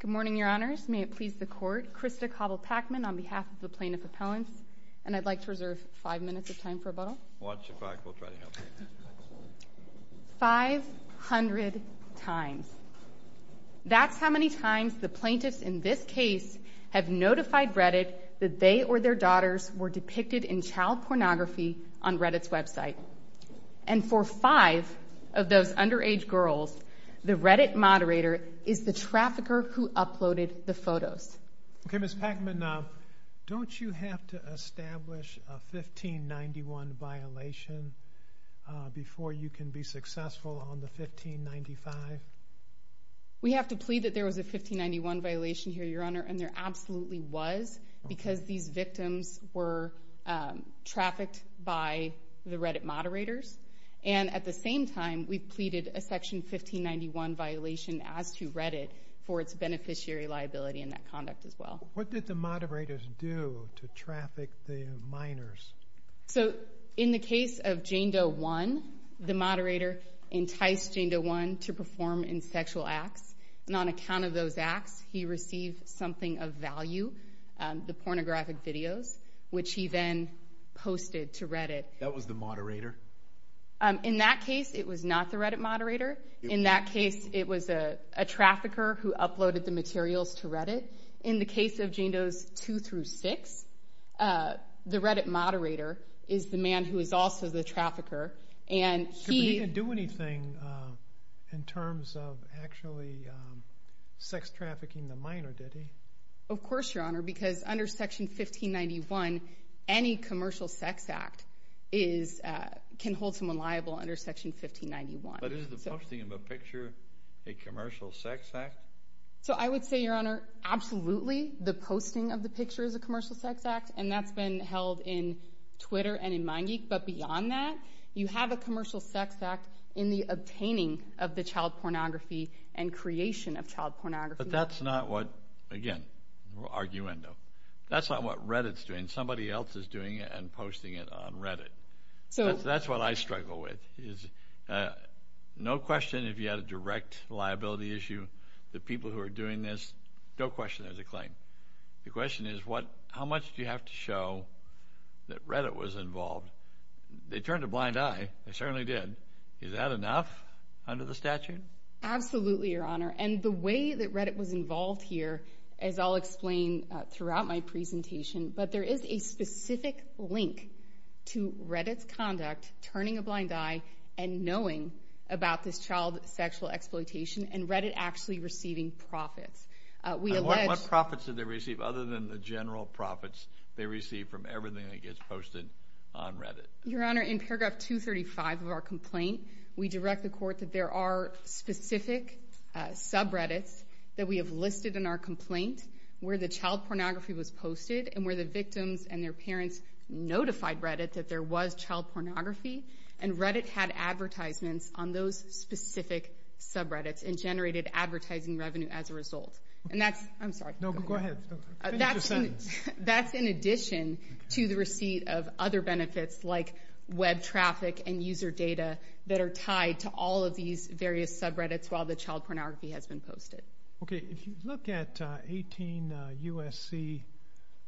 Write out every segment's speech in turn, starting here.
Good morning, Your Honors, may it please the Court, Krista Cobble-Packman on behalf of Plaintiff Appellants, and I'd like to reserve five minutes of time for rebuttal. Five hundred times. That's how many times the plaintiffs in this case have notified Reddit that they or their daughters were depicted in child pornography on Reddit's website. And for five of those underage girls, the Reddit moderator is the trafficker who uploaded the photos. Okay, Ms. Packman, don't you have to establish a 1591 violation before you can be successful on the 1595? We have to plead that there was a 1591 violation here, Your Honor, and there absolutely was because these victims were trafficked by the Reddit moderators. And at the same time, we pleaded a section 1591 violation as to Reddit for its beneficiary liability in that conduct as well. What did the moderators do to traffic the minors? So in the case of Jane Doe 1, the moderator enticed Jane Doe 1 to perform insexual acts, and on account of those acts, he received something of value, the pornographic videos, which he then posted to Reddit. That was the moderator? In that case, it was not the Reddit moderator. In that case, it was a trafficker who uploaded the materials to Reddit. In the case of Jane Doe 2 through 6, the Reddit moderator is the man who is also the trafficker, and he... But he didn't do anything in terms of actually sex trafficking the minor, did he? Of course, Your Honor, because under section 1591, any commercial sex act can hold someone liable under section 1591. But is the posting of a picture a commercial sex act? So I would say, Your Honor, absolutely, the posting of the picture is a commercial sex act, and that's been held in Twitter and in MindGeek, but beyond that, you have a commercial sex act in the obtaining of the child pornography and creation of child pornography. But that's not what, again, arguendo. That's not what Reddit's doing. Somebody else is doing it and posting it on Reddit. So that's what I struggle with, is no question if you had a direct liability issue, the people who are doing this, no question there's a claim. The question is, how much do you have to show that Reddit was involved? They turned a blind eye. They certainly did. Is that enough under the statute? Absolutely, Your Honor, and the way that Reddit was involved here, as I'll explain throughout my presentation, but there is a specific link to Reddit's conduct, turning a blind eye and knowing about this child sexual exploitation, and Reddit actually receiving profits. We allege... And what profits did they receive, other than the general profits they receive from everything that gets posted on Reddit? Your Honor, in paragraph 235 of our complaint, we direct the court that there are specific subreddits that we have listed in our complaint where the child pornography was posted and where the victims and their parents notified Reddit that there was child pornography, and Reddit had advertisements on those specific subreddits and generated advertising revenue as a result. And that's... I'm sorry. No, go ahead. Finish your sentence. That's in addition to the receipt of other benefits like web traffic and user data that are tied to all of these various subreddits while the child pornography has been posted. Okay. If you look at 18 U.S.C.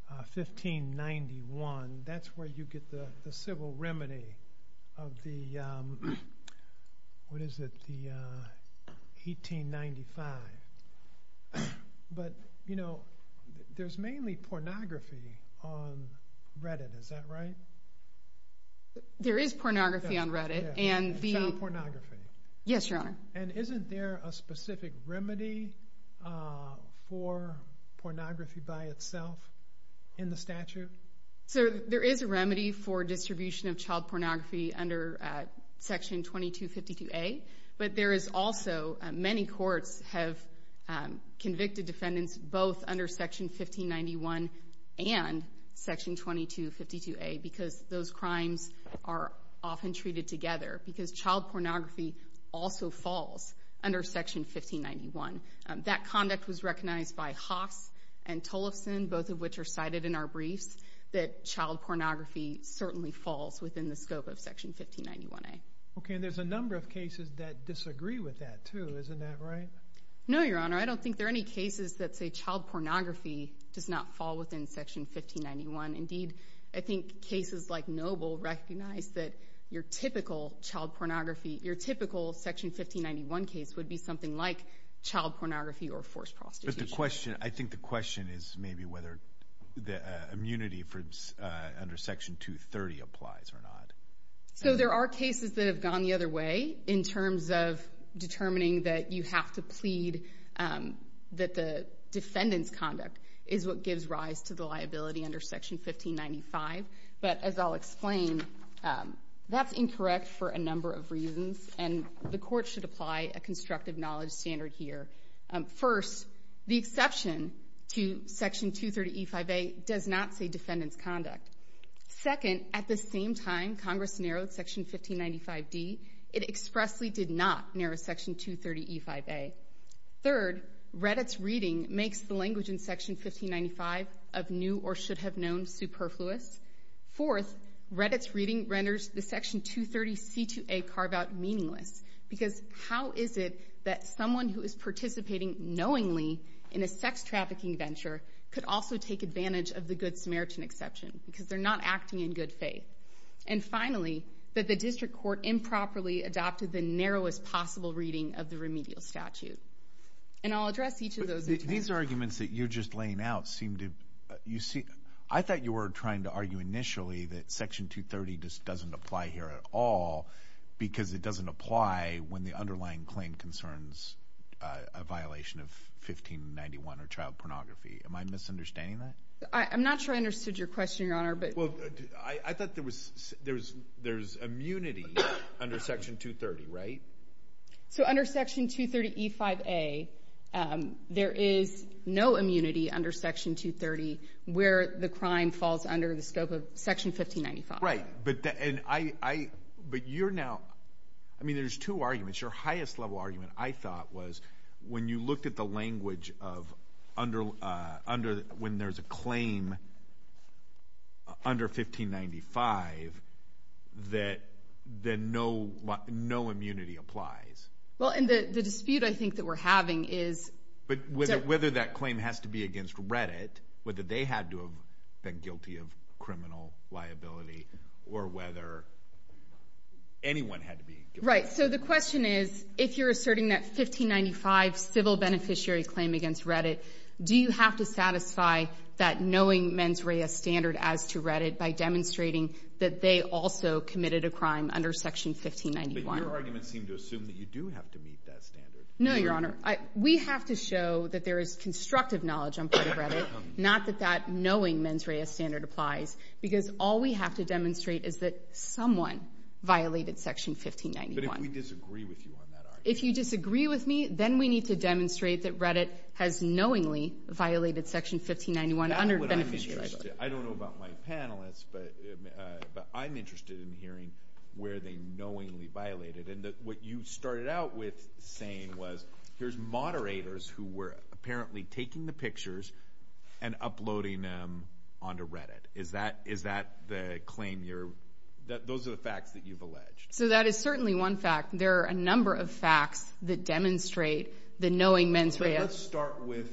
1591, that's where you get the civil remedy of the, what is it, the 1895. But there's mainly pornography on Reddit, is that right? There is pornography on Reddit, and the... Child pornography. Yes, Your Honor. And isn't there a specific remedy for pornography by itself in the statute? So there is a remedy for distribution of child pornography under section 2252A, but there is also, many courts have convicted defendants both under section 1591 and section 2252A because those crimes are often treated together, because child pornography also falls under section 1591. That conduct was recognized by Haas and Tollefson, both of which are cited in our briefs, that child pornography certainly falls within the scope of section 1591A. Okay, and there's a number of cases that disagree with that, too. Isn't that right? No, Your Honor. I don't think there are any cases that say child pornography does not fall within section 1591. Indeed, I think cases like Noble recognize that your typical child pornography, your typical section 1591 case would be something like child pornography or forced prostitution. I think the question is maybe whether the immunity under section 230 applies or not. So there are cases that have gone the other way in terms of determining that you have to plead that the defendant's conduct is what gives rise to the liability under section 1595, but as I'll explain, that's incorrect for a number of reasons, and the court should apply a constructive knowledge standard here. First, the exception to section 230E5A does not say defendant's conduct. Second, at the same time Congress narrowed section 1595D, it expressly did not narrow section 230E5A. Third, Reddit's reading makes the language in section 1595 of new or should have known superfluous. Fourth, Reddit's reading renders the section 230C2A carve-out meaningless, because how is it that someone who is participating knowingly in a sex trafficking venture could also take advantage of the Good Samaritan exception, because they're not acting in good faith? And finally, that the district court improperly adopted the narrowest possible reading of the remedial statute. And I'll address each of those in turn. These arguments that you're just laying out seem to, you see, I thought you were trying to argue initially that section 230 just doesn't apply here at all, because it doesn't apply when the underlying claim concerns a violation of 1591 or child pornography. Am I misunderstanding that? I'm not sure I understood your question, Your Honor, but... Well, I thought there was, there's immunity under section 230, right? So under section 230E5A, there is no immunity under section 230 where the crime falls under the scope of section 1595. Right. But I, but you're now, I mean, there's two arguments. Your highest level argument, I thought, was when you looked at the language of under, when there's a claim under 1595 that, that no, no immunity applies. Well, and the dispute, I think, that we're having is... But whether that claim has to be against Reddit, whether they had to have been guilty of criminal liability or whether anyone had to be guilty. Right. So the question is, if you're asserting that 1595 civil beneficiary claim against Reddit, do you have to satisfy that knowing mens rea standard as to Reddit by demonstrating that they also committed a crime under section 1591? But your arguments seem to assume that you do have to meet that standard. No, Your Honor. We have to show that there is constructive knowledge on part of Reddit, not that that knowing mens rea standard applies, because all we have to demonstrate is that someone violated section 1591. But if we disagree with you on that argument... That's what I'm interested in. I don't know about my panelists, but I'm interested in hearing where they knowingly violated. And what you started out with saying was, here's moderators who were apparently taking the pictures and uploading them onto Reddit. Is that the claim you're, those are the facts that you've alleged? So that is certainly one fact. There are a number of facts that demonstrate the knowing mens rea... Let's start with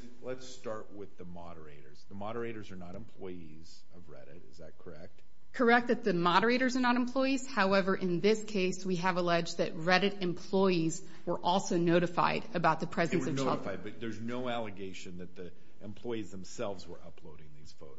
the moderators. The moderators are not employees of Reddit. Is that correct? Correct that the moderators are not employees. However, in this case, we have alleged that Reddit employees were also notified about the presence of... They were notified, but there's no allegation that the employees themselves were uploading these photos.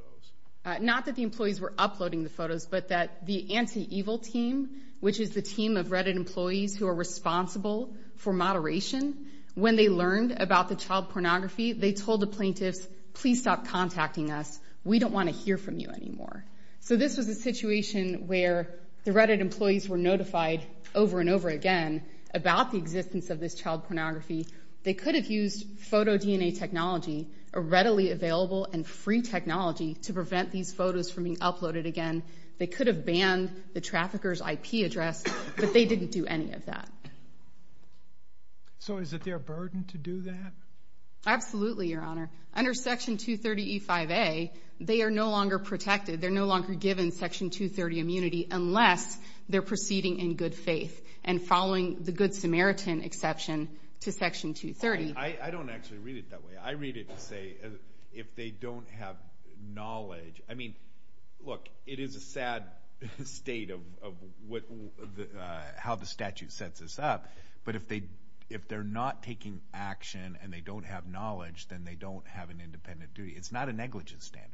Not that the employees were uploading the photos, but that the anti-evil team, which is the team of Reddit employees who are responsible for moderation, when they learned about the child pornography, they told the plaintiffs, please stop contacting us. We don't want to hear from you anymore. So this was a situation where the Reddit employees were notified over and over again about the existence of this child pornography. They could have used photo DNA technology, a readily available and free technology to prevent these photos from being uploaded again. They could have banned the trafficker's IP address, but they didn't do any of that. So is it their burden to do that? Absolutely, Your Honor. Under Section 230E5A, they are no longer protected. They're no longer given Section 230 immunity unless they're proceeding in good faith and following the Good Samaritan exception to Section 230. I don't actually read it that way. I read it to say if they don't have knowledge... I mean, look, it is a sad state of how the statute sets this up. But if they're not taking action and they don't have knowledge, then they don't have an independent duty. It's not a negligent standard.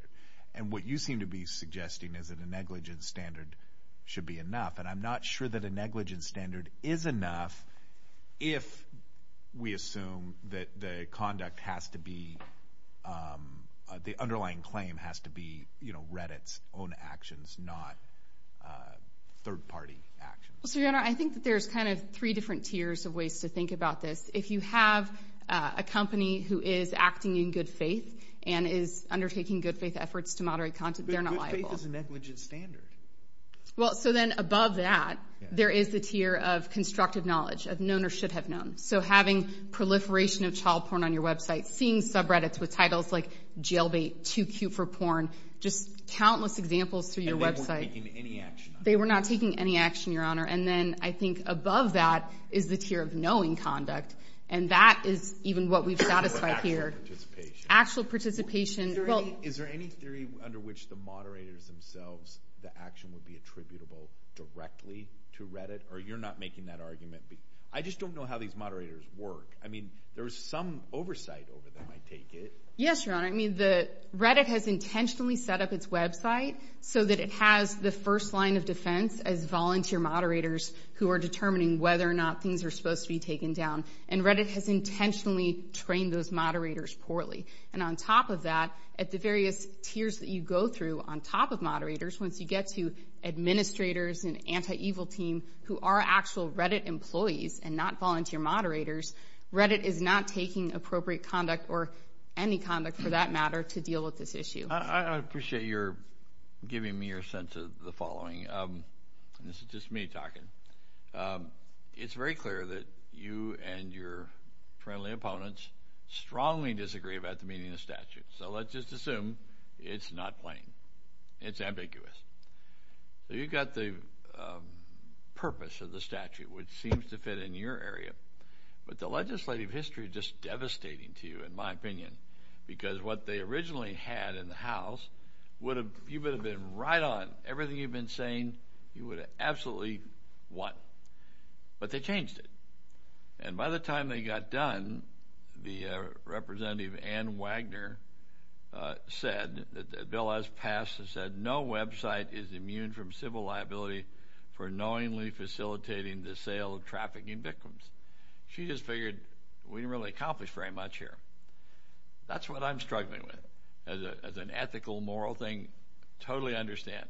And what you seem to be suggesting is that a negligent standard should be enough. And I'm not sure that a negligent standard is enough if we assume that the conduct has to be...the underlying claim has to be Reddit's own actions, not third-party actions. Well, so, Your Honor, I think that there's kind of three different tiers of ways to think about this. If you have a company who is acting in good faith and is undertaking good faith efforts to moderate content, they're not liable. But good faith is a negligent standard. Well, so then above that, there is the tier of constructive knowledge, of known or should have known. So having proliferation of child porn on your website, seeing subreddits with titles like jailbait, too cute for porn, just countless examples through your website. And they weren't taking any action. They were not taking any action, Your Honor. And then I think above that is the tier of knowing conduct. And that is even what we've satisfied here. Actual participation. Actual participation. Is there any theory under which the moderators themselves, the action would be attributable directly to Reddit? Or you're not making that argument? I just don't know how these moderators work. I mean, there's some oversight over them, I take it. Yes, Your Honor. I mean, Reddit has intentionally set up its website so that it has the first line of defense as volunteer moderators who are determining whether or not things are supposed to be taken down. And Reddit has intentionally trained those moderators poorly. And on top of that, at the various tiers that you go through on top of moderators, once you get to administrators and anti-evil team who are actual Reddit employees and not volunteer moderators, Reddit is not taking appropriate conduct or any conduct for that matter to deal with this issue. I appreciate your giving me your sense of the following. This is just me talking. It's very clear that you and your friendly opponents strongly disagree about the meaning of the statute. So let's just assume it's not plain. It's ambiguous. So you've got the purpose of the statute, which seems to fit in your area. But the legislative history is just devastating to you, in my opinion, because what they originally had in the House, you would have been right on. Everything you've been saying, you would have absolutely won. But they changed it. And by the time they got done, the representative, Ann Wagner, said that the bill has passed and said no website is immune from civil liability for knowingly facilitating the sale of trafficking victims. She just figured we didn't really accomplish very much here. That's what I'm struggling with as an ethical, moral thing. Totally understand.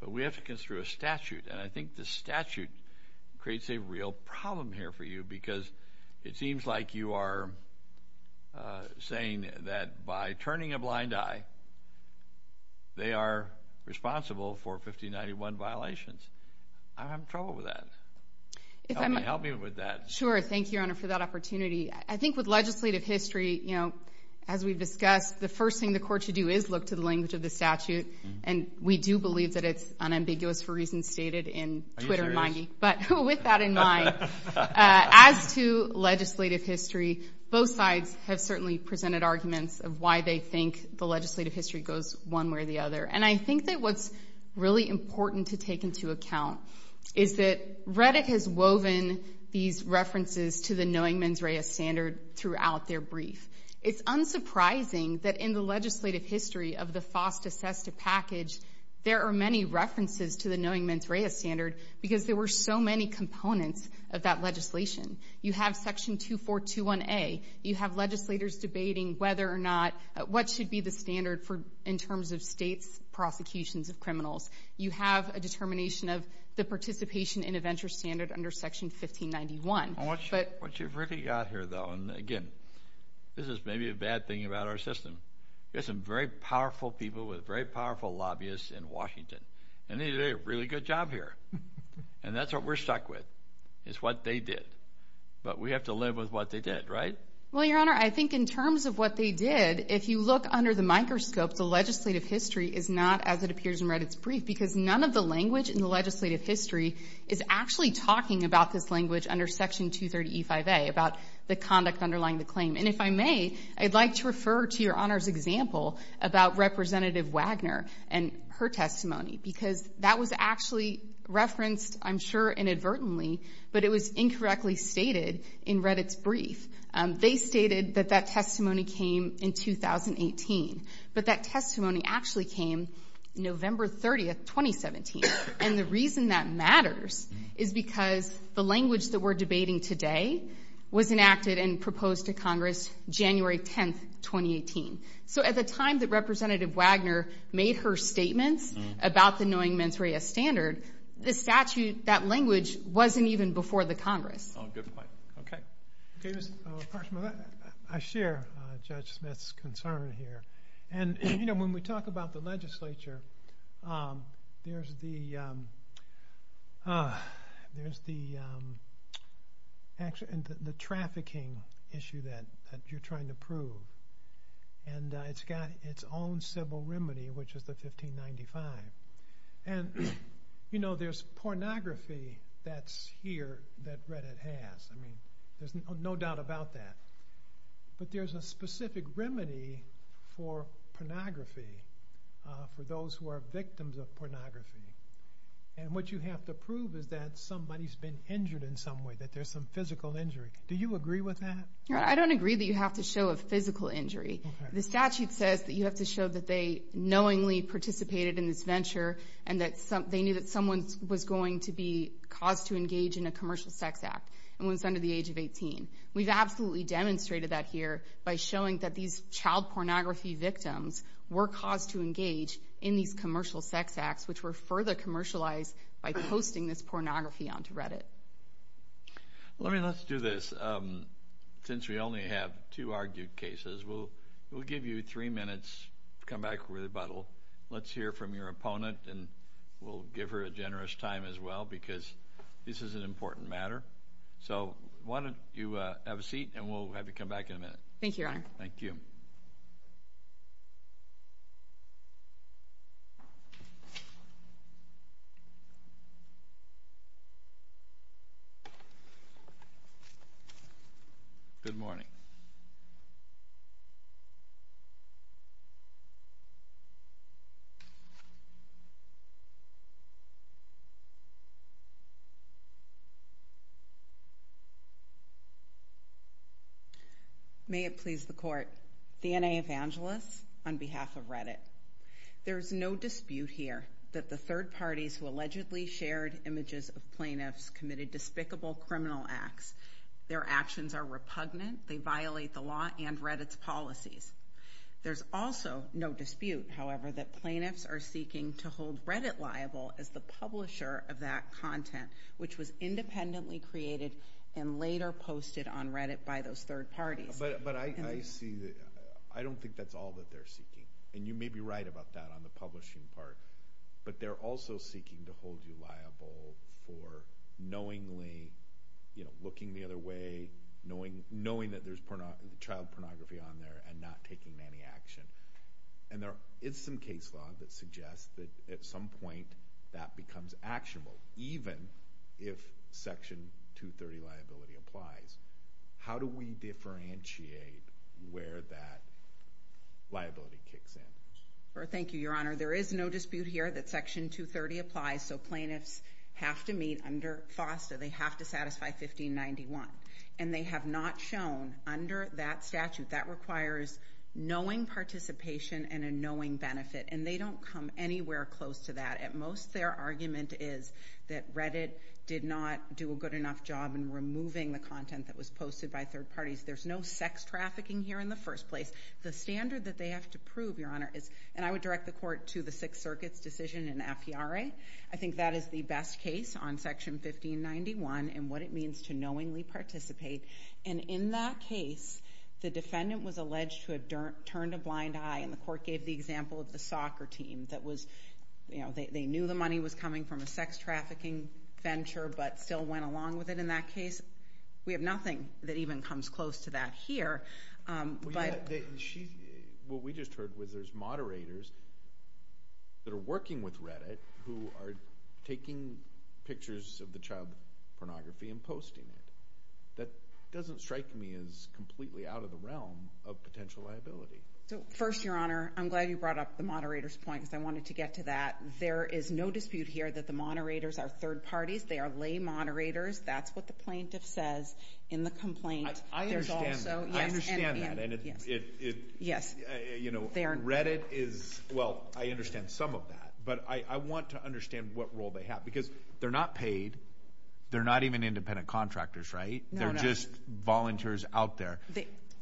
But we have to consider a statute. And I think the statute creates a real problem here for you because it seems like you are saying that by turning a blind eye, they are responsible for 1591 violations. I'm having trouble with that. Help me with that. Sure. Thank you, Your Honor, for that opportunity. I think with legislative history, as we've discussed, the first thing the court should do is look to the language of the statute. And we do believe that it's unambiguous for reasons stated in Twitter and Mindy. Are you serious? But with that in mind, as to legislative history, both sides have certainly presented arguments of why they think the legislative history goes one way or the other. And I think that what's really important to take into account is that Reddick has woven these references to the knowing mens rea standard throughout their brief. It's unsurprising that in the legislative history of the FOSTA-SESTA package, there are many references to the knowing mens rea standard because there were so many components of that legislation. You have Section 2421A. You have legislators debating whether or not what should be the standard in terms of states' prosecutions of criminals. You have a determination of the participation in a venture standard under Section 1591. What you've really got here, though, and again, this is maybe a bad thing about our system, is some very powerful people with very powerful lobbyists in Washington. And they did a really good job here. And that's what we're stuck with, is what they did. But we have to live with what they did, right? Well, Your Honor, I think in terms of what they did, if you look under the microscope, the legislative history is not, as it appears in Reddick's brief, because none of the language in the legislative history is actually talking about this language under Section 230E5A, about the conduct underlying the claim. And if I may, I'd like to refer to Your Honor's example about Representative Wagner and her testimony because that was actually referenced, I'm sure, inadvertently, but it was incorrectly stated in Reddick's brief. They stated that that testimony came in 2018. But that testimony actually came November 30th, 2017. And the reason that matters is because the language that we're debating today was enacted and proposed to Congress January 10th, 2018. So at the time that Representative Wagner made her statements about the knowing mens rea standard, the statute, that language, wasn't even before the Congress. Oh, good point. Okay. I share Judge Smith's concern here. And when we talk about the legislature, there's the trafficking issue that you're trying to prove. And it's got its own civil remedy, which is the 1595. And there's pornography that's here that Reddick has. I mean, there's no doubt about that. But there's a specific remedy for pornography, for those who are victims of pornography. And what you have to prove is that somebody's been injured in some way, that there's some physical injury. Do you agree with that? Your Honor, I don't agree that you have to show a physical injury. The statute says that you have to show that they knowingly participated in this venture and that they knew that someone was going to be caused to engage in a commercial sex act. And it was under the age of 18. We've absolutely demonstrated that here by showing that these child pornography victims were caused to engage in these commercial sex acts, which were further commercialized by posting this pornography onto Reddit. Let's do this. Since we only have two argued cases, we'll give you three minutes to come back with a rebuttal. Let's hear from your opponent, and we'll give her a generous time as well, because this is an important matter. So why don't you have a seat, and we'll have you come back in a minute. Thank you, Your Honor. Thank you. Good morning. May it please the Court. The N.A. Evangelist on behalf of Reddit. There's no dispute here that the third parties who allegedly shared images of plaintiffs committed despicable criminal acts. Their actions are repugnant. They violate the law and Reddit's policies. There's also no dispute, however, that plaintiffs are seeking to hold Reddit liable as the publisher of that content, which was independently created and later posted on Reddit by those third parties. But I see that. I don't think that's all that they're seeking. And you may be right about that on the publishing part. But they're also seeking to hold you liable for knowingly looking the other way, knowing that there's child pornography on there, and not taking any action. And there is some case law that suggests that at some point that becomes actionable, even if Section 230 liability applies. How do we differentiate where that liability kicks in? Thank you, Your Honor. There is no dispute here that Section 230 applies, so plaintiffs have to meet under FOSTA. They have to satisfy 1591. And they have not shown under that statute. That requires knowing participation and a knowing benefit. And they don't come anywhere close to that. At most, their argument is that Reddit did not do a good enough job in removing the content that was posted by third parties. There's no sex trafficking here in the first place. The standard that they have to prove, Your Honor, is, and I would direct the court to the Sixth Circuit's decision in AFIARE. I think that is the best case on Section 1591 and what it means to knowingly participate. And in that case, the defendant was alleged to have turned a blind eye, and the court gave the example of the soccer team that was, you know, they knew the money was coming from a sex trafficking venture but still went along with it in that case. We have nothing that even comes close to that here. What we just heard was there's moderators that are working with Reddit who are taking pictures of the child pornography and posting it. That doesn't strike me as completely out of the realm of potential liability. First, Your Honor, I'm glad you brought up the moderator's point because I wanted to get to that. There is no dispute here that the moderators are third parties. They are lay moderators. That's what the plaintiff says in the complaint. I understand that. I understand that. And it, you know, Reddit is, well, I understand some of that, but I want to understand what role they have because they're not paid. They're not even independent contractors, right? They're just volunteers out there.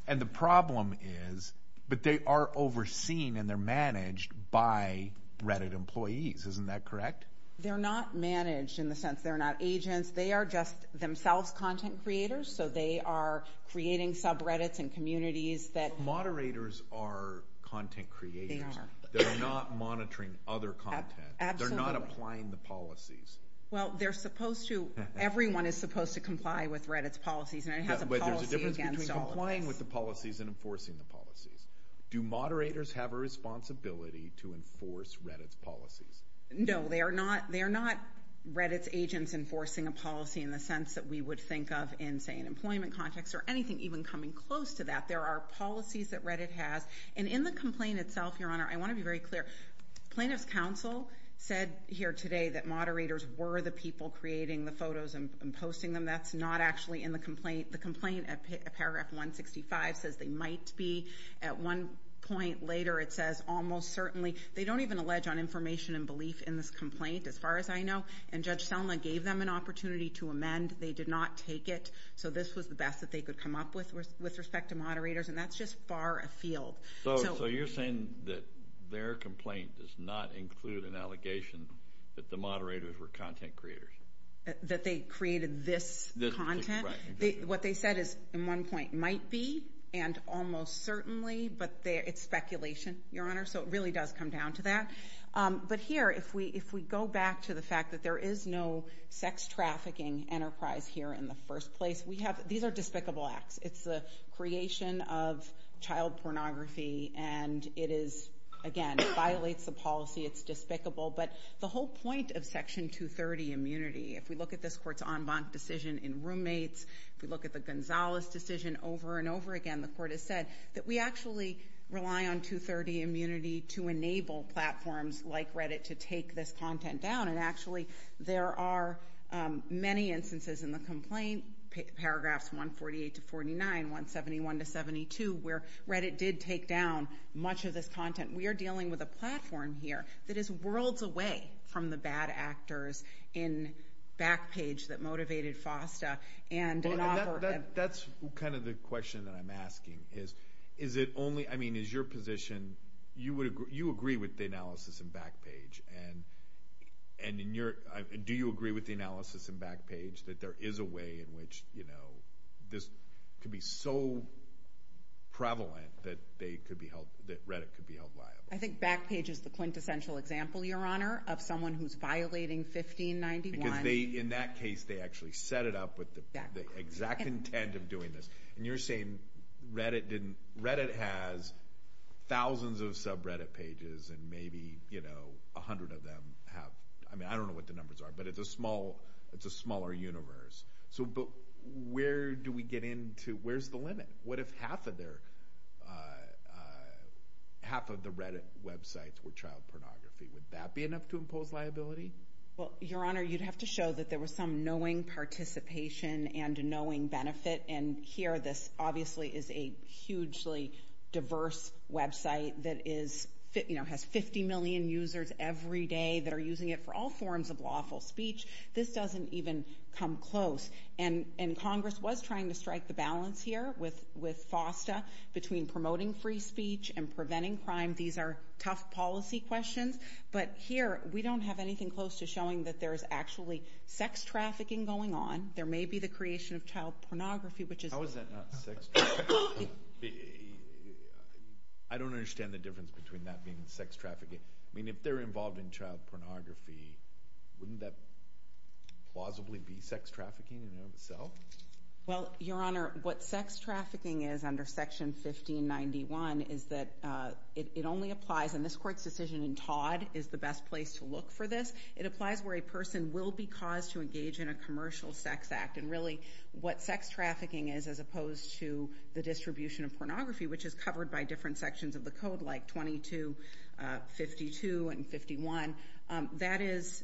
And the problem is, but they are overseen and they're managed by Reddit employees. Isn't that correct? They're not managed in the sense they're not agents. They are just themselves content creators, so they are creating subreddits and communities that... Moderators are content creators. They are. They're not monitoring other content. Absolutely. They're not applying the policies. Well, they're supposed to... Everyone is supposed to comply with Reddit's policies, and it has a policy against all of them. But there's a difference between complying with the policies and enforcing the policies. Do moderators have a responsibility to enforce Reddit's policies? No. They are not Reddit's agents enforcing a policy in the sense that we would think of in, say, an employment context or anything even coming close to that. There are policies that Reddit has. And in the complaint itself, Your Honor, I want to be very clear. Plaintiff's counsel said here today that moderators were the people creating the photos and posting them. That's not actually in the complaint. The complaint at paragraph 165 says they might be. At one point later it says almost certainly... I don't even allege on information and belief in this complaint as far as I know. And Judge Selma gave them an opportunity to amend. They did not take it. So this was the best that they could come up with with respect to moderators, and that's just far afield. So you're saying that their complaint does not include an allegation that the moderators were content creators? That they created this content? What they said is, at one point, might be and almost certainly, but it's speculation, Your Honor. So it really does come down to that. But here, if we go back to the fact that there is no sex trafficking enterprise here in the first place, these are despicable acts. It's the creation of child pornography, and it is, again, it violates the policy. It's despicable. But the whole point of Section 230, immunity, if we look at this court's en banc decision in roommates, if we look at the Gonzalez decision over and over again, the court has said that we actually rely on 230, immunity, to enable platforms like Reddit to take this content down. And actually, there are many instances in the complaint, paragraphs 148 to 49, 171 to 72, where Reddit did take down much of this content. We are dealing with a platform here that is worlds away from the bad actors in Backpage that motivated FOSTA. That's kind of the question that I'm asking is, is it only, I mean, is your position, you agree with the analysis in Backpage, and do you agree with the analysis in Backpage that there is a way in which this could be so prevalent that Reddit could be held liable? I think Backpage is the quintessential example, Your Honor, of someone who's violating 1591. Because in that case, they actually set it up with the exact intent of doing this. And you're saying Reddit has thousands of subreddit pages, and maybe 100 of them have, I mean, I don't know what the numbers are, but it's a smaller universe. But where do we get into, where's the limit? What if half of the Reddit websites were child pornography? Would that be enough to impose liability? Well, Your Honor, you'd have to show that there was some knowing participation and knowing benefit. And here, this obviously is a hugely diverse website that has 50 million users every day that are using it for all forms of lawful speech. This doesn't even come close. And Congress was trying to strike the balance here with FOSTA between promoting free speech and preventing crime. These are tough policy questions. But here, we don't have anything close to showing that there is actually sex trafficking going on. There may be the creation of child pornography, which is— How is that not sex trafficking? I don't understand the difference between that being sex trafficking. I mean, if they're involved in child pornography, wouldn't that plausibly be sex trafficking in and of itself? Well, Your Honor, what sex trafficking is under Section 1591 is that it only applies, and this Court's decision in Todd is the best place to look for this, it applies where a person will be caused to engage in a commercial sex act. And really, what sex trafficking is, as opposed to the distribution of pornography, which is covered by different sections of the Code, like 22, 52, and 51, that is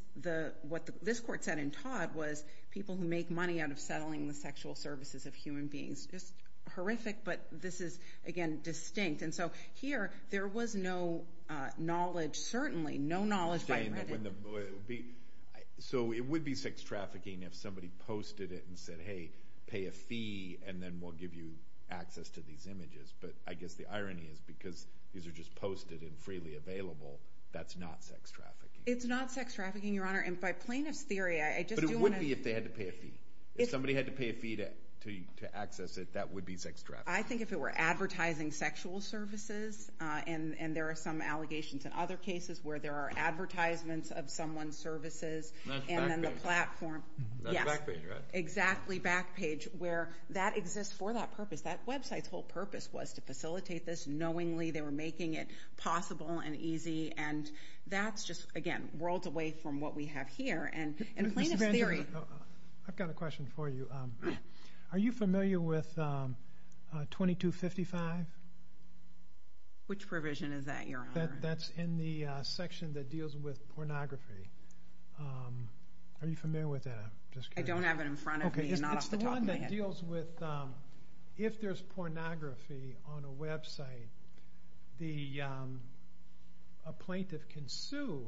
what this Court said in Todd was people who make money out of settling the sexual services of human beings. It's horrific, but this is, again, distinct. And so here, there was no knowledge, certainly no knowledge by Reddit. So it would be sex trafficking if somebody posted it and said, hey, pay a fee, and then we'll give you access to these images. But I guess the irony is because these are just posted and freely available, that's not sex trafficking. It's not sex trafficking, Your Honor, and by plaintiff's theory, I just do want to— But it would be if they had to pay a fee. If somebody had to pay a fee to access it, that would be sex trafficking. I think if it were advertising sexual services, and there are some allegations in other cases where there are advertisements of someone's services, and then the platform— That's Backpage, right? Yes, exactly, Backpage, where that exists for that purpose. That website's whole purpose was to facilitate this knowingly. They were making it possible and easy, and that's just, again, worlds away from what we have here. And plaintiff's theory— I've got a question for you. Are you familiar with 2255? Which provision is that, Your Honor? That's in the section that deals with pornography. Are you familiar with that? I don't have it in front of me, not off the top of my head. It's the one that deals with if there's pornography on a website, a plaintiff can sue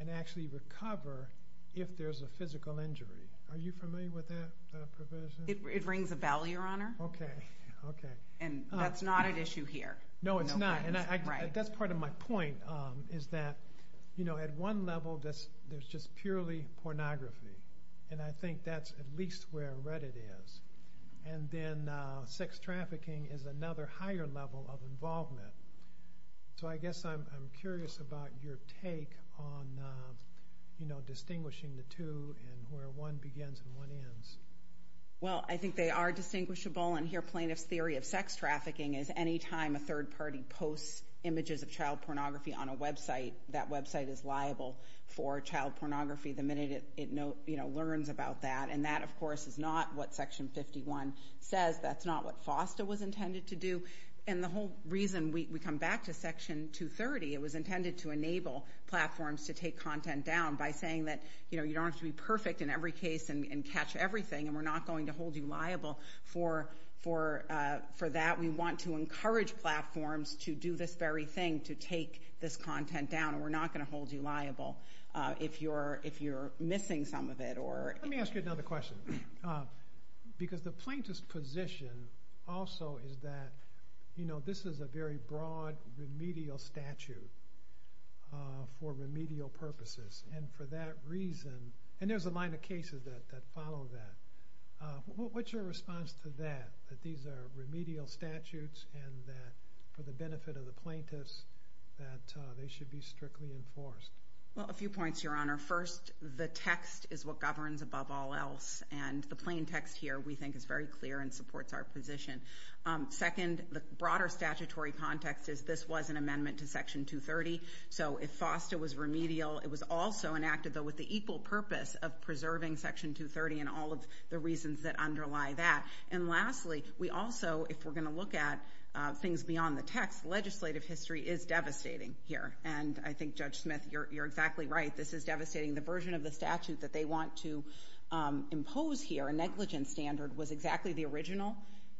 and actually recover if there's a physical injury. Are you familiar with that provision? It rings a bell, Your Honor. Okay, okay. And that's not an issue here. No, it's not, and that's part of my point, is that at one level there's just purely pornography, and I think that's at least where Reddit is. And then sex trafficking is another higher level of involvement. So I guess I'm curious about your take on distinguishing the two and where one begins and one ends. Well, I think they are distinguishable, and here plaintiff's theory of sex trafficking is any time a third party posts images of child pornography on a website, that website is liable for child pornography the minute it learns about that. And that, of course, is not what Section 51 says. That's not what FOSTA was intended to do. And the whole reason we come back to Section 230, it was intended to enable platforms to take content down by saying that, you know, you don't have to be perfect in every case and catch everything, and we're not going to hold you liable for that. We want to encourage platforms to do this very thing, to take this content down, and we're not going to hold you liable if you're missing some of it. Let me ask you another question, because the plaintiff's position also is that, you know, this is a very broad remedial statute for remedial purposes, and for that reason, and there's a line of cases that follow that. What's your response to that, that these are remedial statutes and that for the benefit of the plaintiffs that they should be strictly enforced? Well, a few points, Your Honor. First, the text is what governs above all else, and the plain text here we think is very clear and supports our position. Second, the broader statutory context is this was an amendment to Section 230, so if FOSTA was remedial, it was also enacted, though, with the equal purpose of preserving Section 230 and all of the reasons that underlie that. And lastly, we also, if we're going to look at things beyond the text, legislative history is devastating here, and I think, Judge Smith, you're exactly right. This is devastating. The version of the statute that they want to impose here, a negligence standard, was exactly the original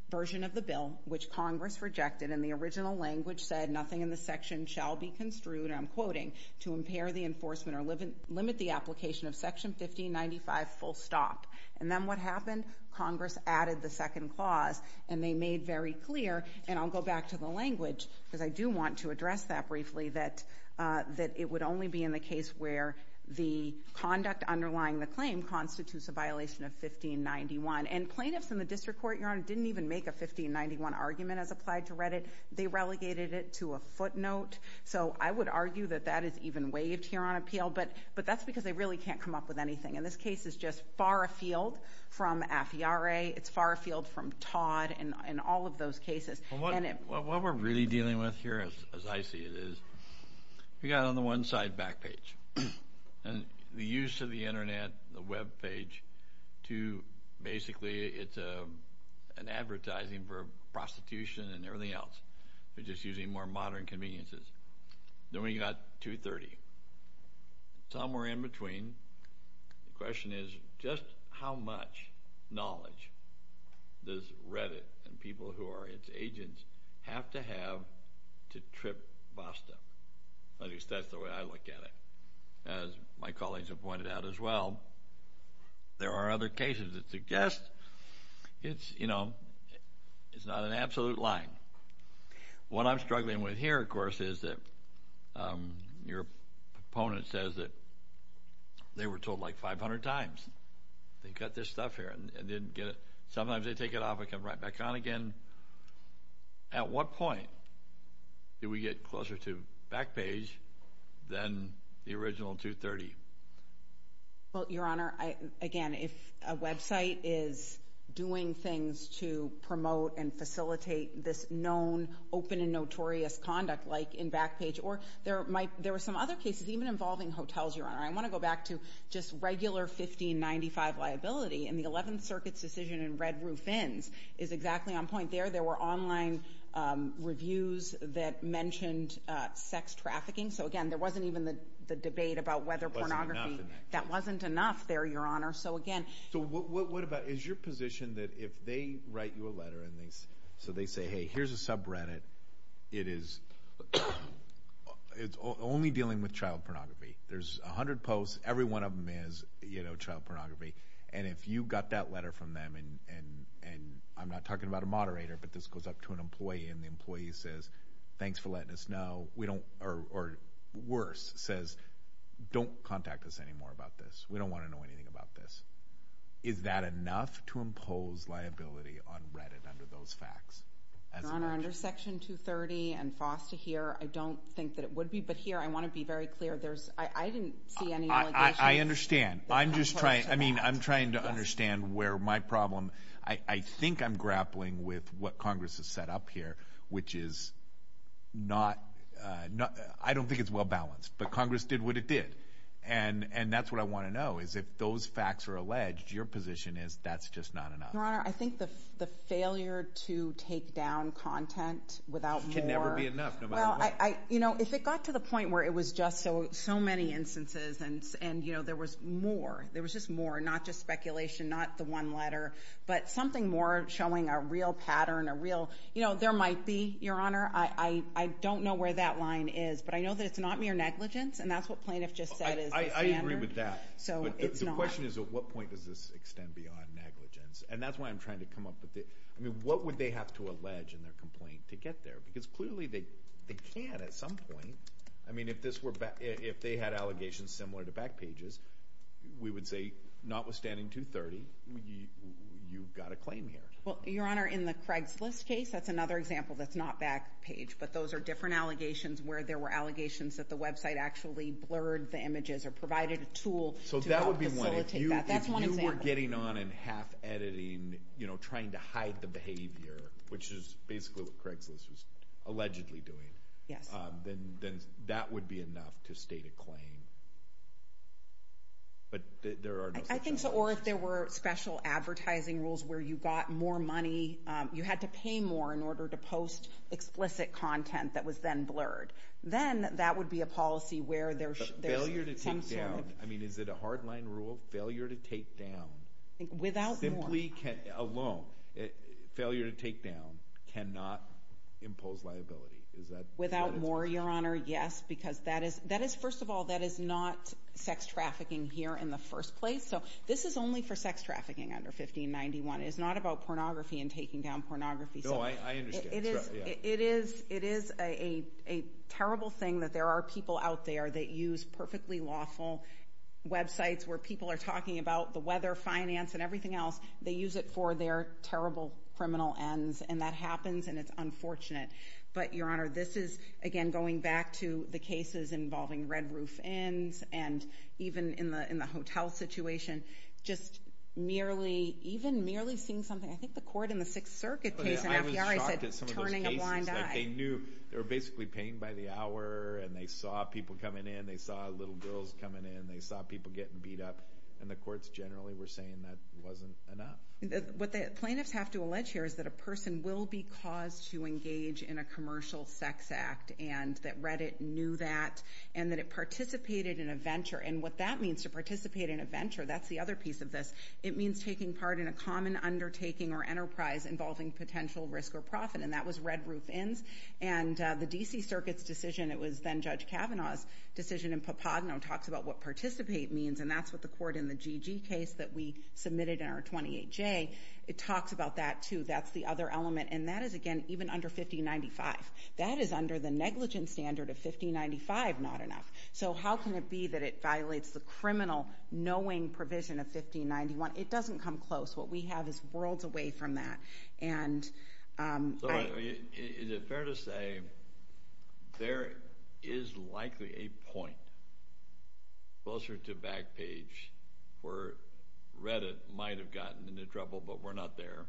version of the bill, which Congress rejected, and the original language said, nothing in the section shall be construed, and I'm quoting, to impair the enforcement or limit the application of Section 1595 full stop. And then what happened? Congress added the second clause, and they made very clear, and I'll go back to the language because I do want to address that briefly, that it would only be in the case where the conduct underlying the claim constitutes a violation of 1591. And plaintiffs in the district court, Your Honor, didn't even make a 1591 argument as applied to Reddit. They relegated it to a footnote. So I would argue that that is even waived here on appeal, but that's because they really can't come up with anything, and this case is just far afield from Afiare. It's far afield from Todd and all of those cases. Well, what we're really dealing with here, as I see it, is we got on the one side back page, and the use of the Internet, the web page to basically it's an advertising for prostitution and everything else. We're just using more modern conveniences. Then we got 230. Somewhere in between. The question is just how much knowledge does Reddit and people who are its agents have to have to trip BASTA? At least that's the way I look at it. As my colleagues have pointed out as well, there are other cases that suggest it's not an absolute line. What I'm struggling with here, of course, is that your opponent says that they were told like 500 times. They've got this stuff here and didn't get it. Sometimes they take it off and come right back on again. At what point do we get closer to back page than the original 230? Well, Your Honor, again, if a website is doing things to promote and facilitate this known open and notorious conduct like in back page, or there were some other cases even involving hotels, Your Honor. I want to go back to just regular 1595 liability. The 11th Circuit's decision in Red Roof Inns is exactly on point there. There were online reviews that mentioned sex trafficking. Again, there wasn't even the debate about whether pornography. That wasn't enough there, Your Honor. What about is your position that if they write you a letter and they say, hey, here's a subreddit. It's only dealing with child pornography. There's 100 posts. Every one of them is child pornography. And if you got that letter from them, and I'm not talking about a moderator, but this goes up to an employee and the employee says, thanks for letting us know, or worse, says, don't contact us anymore about this. We don't want to know anything about this. Is that enough to impose liability on Reddit under those facts? Your Honor, under Section 230 and FOSTA here, I don't think that it would be. But here I want to be very clear. I didn't see any allegations. I understand. I'm just trying to understand where my problem, I think I'm grappling with what Congress has set up here, which is not ñ I don't think it's well balanced, but Congress did what it did. And that's what I want to know is if those facts are alleged, your position is that's just not enough. Your Honor, I think the failure to take down content without more ñ It can never be enough, no matter what. Well, if it got to the point where it was just so many instances and there was more, there was just more, not just speculation, not the one letter, but something more showing a real pattern, a real ñ there might be, your Honor. I don't know where that line is. But I know that it's not mere negligence, and that's what plaintiff just said is the standard. I agree with that. But the question is at what point does this extend beyond negligence? And that's why I'm trying to come up with it. What would they have to allege in their complaint to get there? Because clearly they can at some point. I mean, if they had allegations similar to back pages, we would say notwithstanding 230, you've got a claim here. Well, your Honor, in the Craigslist case, that's another example that's not back page. But those are different allegations where there were allegations that the website actually blurred the images or provided a tool to help facilitate that. So that would be one. That's one example. If you were getting on and half-editing, you know, trying to hide the behavior, which is basically what Craigslist was allegedly doing, then that would be enough to state a claim. But there are no such allegations. I think so. Or if there were special advertising rules where you got more money, you had to pay more in order to post explicit content that was then blurred, then that would be a policy where there's some sort of – But failure to take down, I mean, is it a hard-line rule? Failure to take down – Without more. Failure to take down cannot impose liability. Without more, your Honor, yes, because that is – first of all, that is not sex trafficking here in the first place. So this is only for sex trafficking under 1591. It is not about pornography and taking down pornography. No, I understand. It is a terrible thing that there are people out there that use perfectly lawful websites where people are talking about the weather, finance, and everything else they use it for their terrible criminal ends. And that happens, and it's unfortunate. But, your Honor, this is, again, going back to the cases involving red-roof inns and even in the hotel situation, just merely – even merely seeing something – I think the court in the Sixth Circuit case in FBI said turning a blind eye. I was shocked at some of those cases. They knew – they were basically paying by the hour, and they saw people coming in. They saw little girls coming in. They saw people getting beat up. And the courts generally were saying that wasn't enough. What the plaintiffs have to allege here is that a person will be caused to engage in a commercial sex act, and that Reddit knew that, and that it participated in a venture. And what that means, to participate in a venture, that's the other piece of this. It means taking part in a common undertaking or enterprise involving potential risk or profit, and that was red-roof inns. And the D.C. Circuit's decision – it was then Judge Kavanaugh's decision in Pappadeno – and that's what the court in the GG case that we submitted in our 28J – it talks about that, too. That's the other element. And that is, again, even under 1595. That is under the negligence standard of 1595, not enough. So how can it be that it violates the criminal knowing provision of 1591? It doesn't come close. What we have is worlds away from that. Is it fair to say there is likely a point closer to back page where Reddit might have gotten into trouble, but we're not there?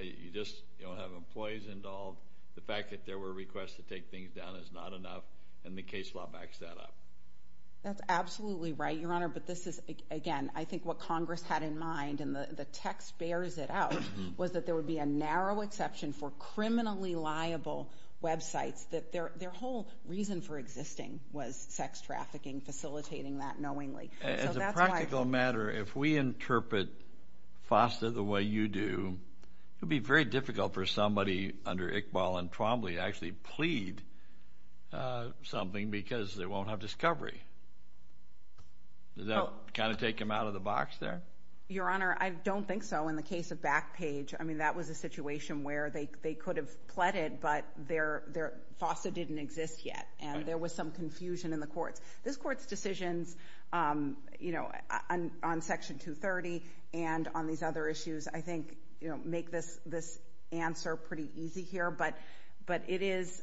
You just don't have employees involved. The fact that there were requests to take things down is not enough, and the case law backs that up. That's absolutely right, Your Honor, but this is, again, I think what Congress had in mind, and the text bears it out, was that there would be a narrow exception for criminally liable websites. Their whole reason for existing was sex trafficking, facilitating that knowingly. As a practical matter, if we interpret FOSTA the way you do, it would be very difficult for somebody under Iqbal and Twombly to actually plead something because they won't have discovery. Does that kind of take them out of the box there? Your Honor, I don't think so. In the case of back page, that was a situation where they could have pleaded, but FOSTA didn't exist yet, and there was some confusion in the courts. This Court's decisions on Section 230 and on these other issues, I think, make this answer pretty easy here, but it is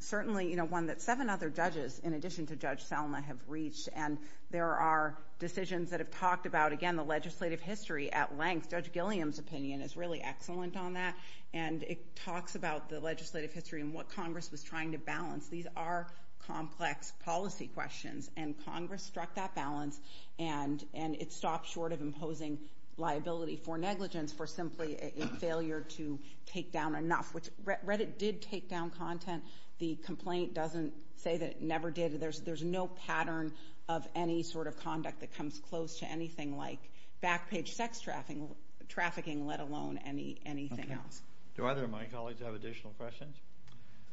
certainly one that seven other judges, in addition to Judge Selma, have reached, and there are decisions that have talked about, again, the legislative history at length. Judge Gilliam's opinion is really excellent on that, and it talks about the legislative history and what Congress was trying to balance. These are complex policy questions, and Congress struck that balance, and it stopped short of imposing liability for negligence for simply a failure to take down enough, which Reddit did take down content. The complaint doesn't say that it never did. There's no pattern of any sort of conduct that comes close to anything like back page sex trafficking, let alone anything else. Do either of my colleagues have additional questions?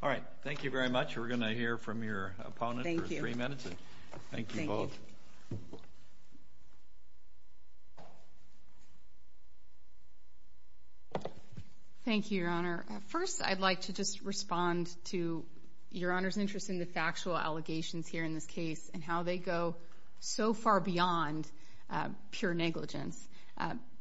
All right, thank you very much. We're going to hear from your opponent for three minutes. Thank you. Thank you both. Thank you, Your Honor. First, I'd like to just respond to Your Honor's interest in the factual allegations here in this case and how they go so far beyond pure negligence.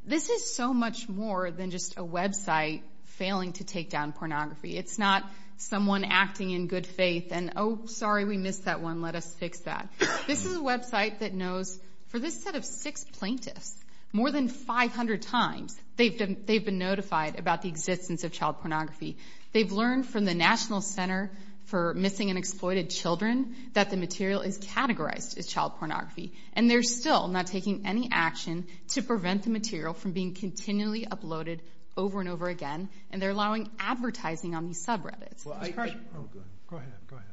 This is so much more than just a website failing to take down pornography. It's not someone acting in good faith and, oh, sorry, we missed that one, let us fix that. This is a website that knows, for this set of six plaintiffs, more than 500 times, they've been notified about the existence of child pornography. They've learned from the National Center for Missing and Exploited Children that the material is categorized as child pornography, and they're still not taking any action to prevent the material from being continually uploaded over and over again, and they're allowing advertising on these subreddits. Go ahead, go ahead.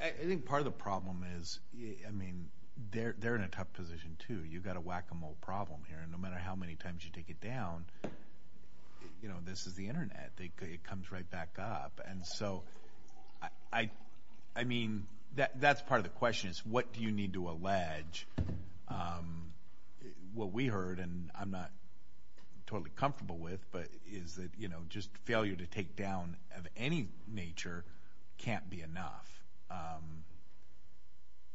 I think part of the problem is, I mean, they're in a tough position too. You've got a whack-a-mole problem here, and no matter how many times you take it down, you know, this is the Internet. It comes right back up. And so, I mean, that's part of the question is what do you need to allege? What we heard, and I'm not totally comfortable with, but is that, you know, just failure to take down of any nature can't be enough.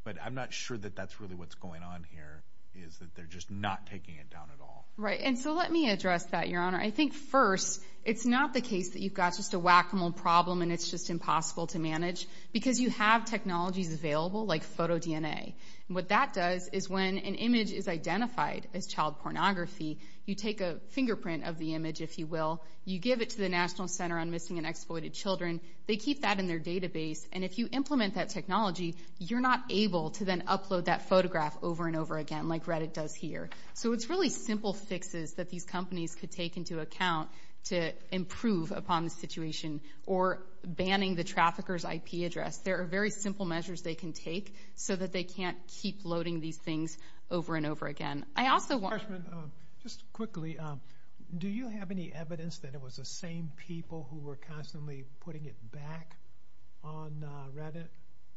But I'm not sure that that's really what's going on here is that they're just not taking it down at all. Right, and so let me address that, Your Honor. I think, first, it's not the case that you've got just a whack-a-mole problem and it's just impossible to manage because you have technologies available like photo DNA. What that does is when an image is identified as child pornography, you take a fingerprint of the image, if you will. You give it to the National Center on Missing and Exploited Children. They keep that in their database, and if you implement that technology, you're not able to then upload that photograph over and over again like Reddit does here. So it's really simple fixes that these companies could take into account to improve upon the situation or banning the trafficker's IP address. There are very simple measures they can take so that they can't keep loading these things over and over again. Just quickly, do you have any evidence that it was the same people who were constantly putting it back on Reddit?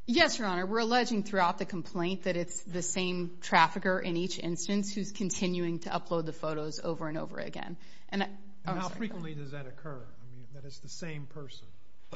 Yes, Your Honor. We're alleging throughout the complaint that it's the same trafficker in each instance who's continuing to upload the photos over and over again. And how frequently does that occur, that it's the same person?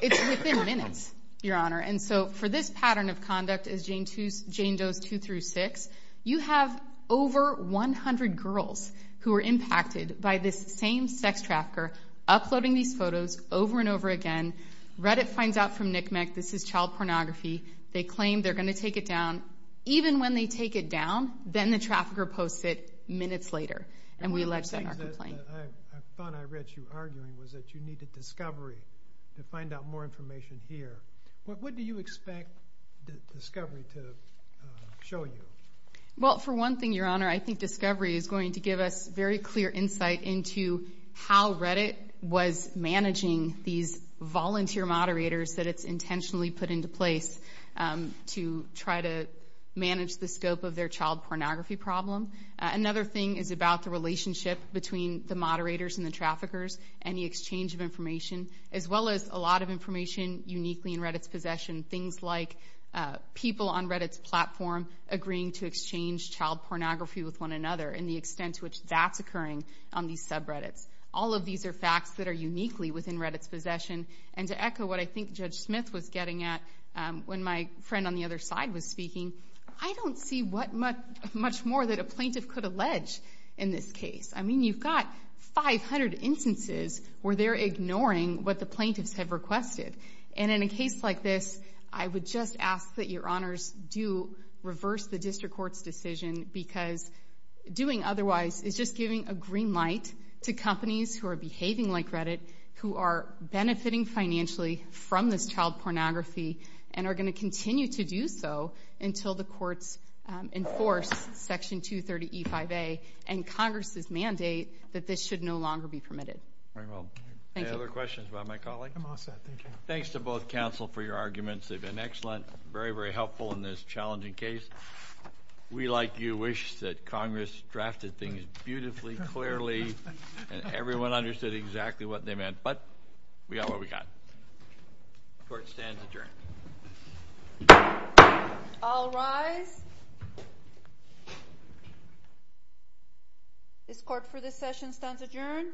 It's within minutes, Your Honor. And so for this pattern of conduct as Jane Doe's two through six, you have over 100 girls who were impacted by this same sex trafficker uploading these photos over and over again. Reddit finds out from NCMEC this is child pornography. They claim they're going to take it down. Even when they take it down, then the trafficker posts it minutes later, and we allege that in our complaint. I thought I read you arguing that you needed discovery to find out more information here. What do you expect discovery to show you? Well, for one thing, Your Honor, I think discovery is going to give us very clear insight into how Reddit was managing these volunteer moderators that it's intentionally put into place to try to manage the scope of their child pornography problem. Another thing is about the relationship between the moderators and the traffickers and the exchange of information, as well as a lot of information uniquely in Reddit's possession, things like people on Reddit's platform agreeing to exchange child pornography with one another and the extent to which that's occurring on these subreddits. All of these are facts that are uniquely within Reddit's possession. And to echo what I think Judge Smith was getting at when my friend on the other side was speaking, I don't see much more that a plaintiff could allege in this case. I mean, you've got 500 instances where they're ignoring what the plaintiffs have requested. And in a case like this, I would just ask that Your Honors do reverse the district court's decision because doing otherwise is just giving a green light to companies who are behaving like Reddit, who are benefiting financially from this child pornography and are going to continue to do so until the courts enforce Section 230E5A and Congress's mandate that this should no longer be permitted. Very well. Any other questions about my colleague? I'm all set. Thank you. Thanks to both counsel for your arguments. They've been excellent, very, very helpful in this challenging case. We, like you, wish that Congress drafted things beautifully, clearly, and everyone understood exactly what they meant, but we got what we got. Court stands adjourned. All rise. This court for this session stands adjourned.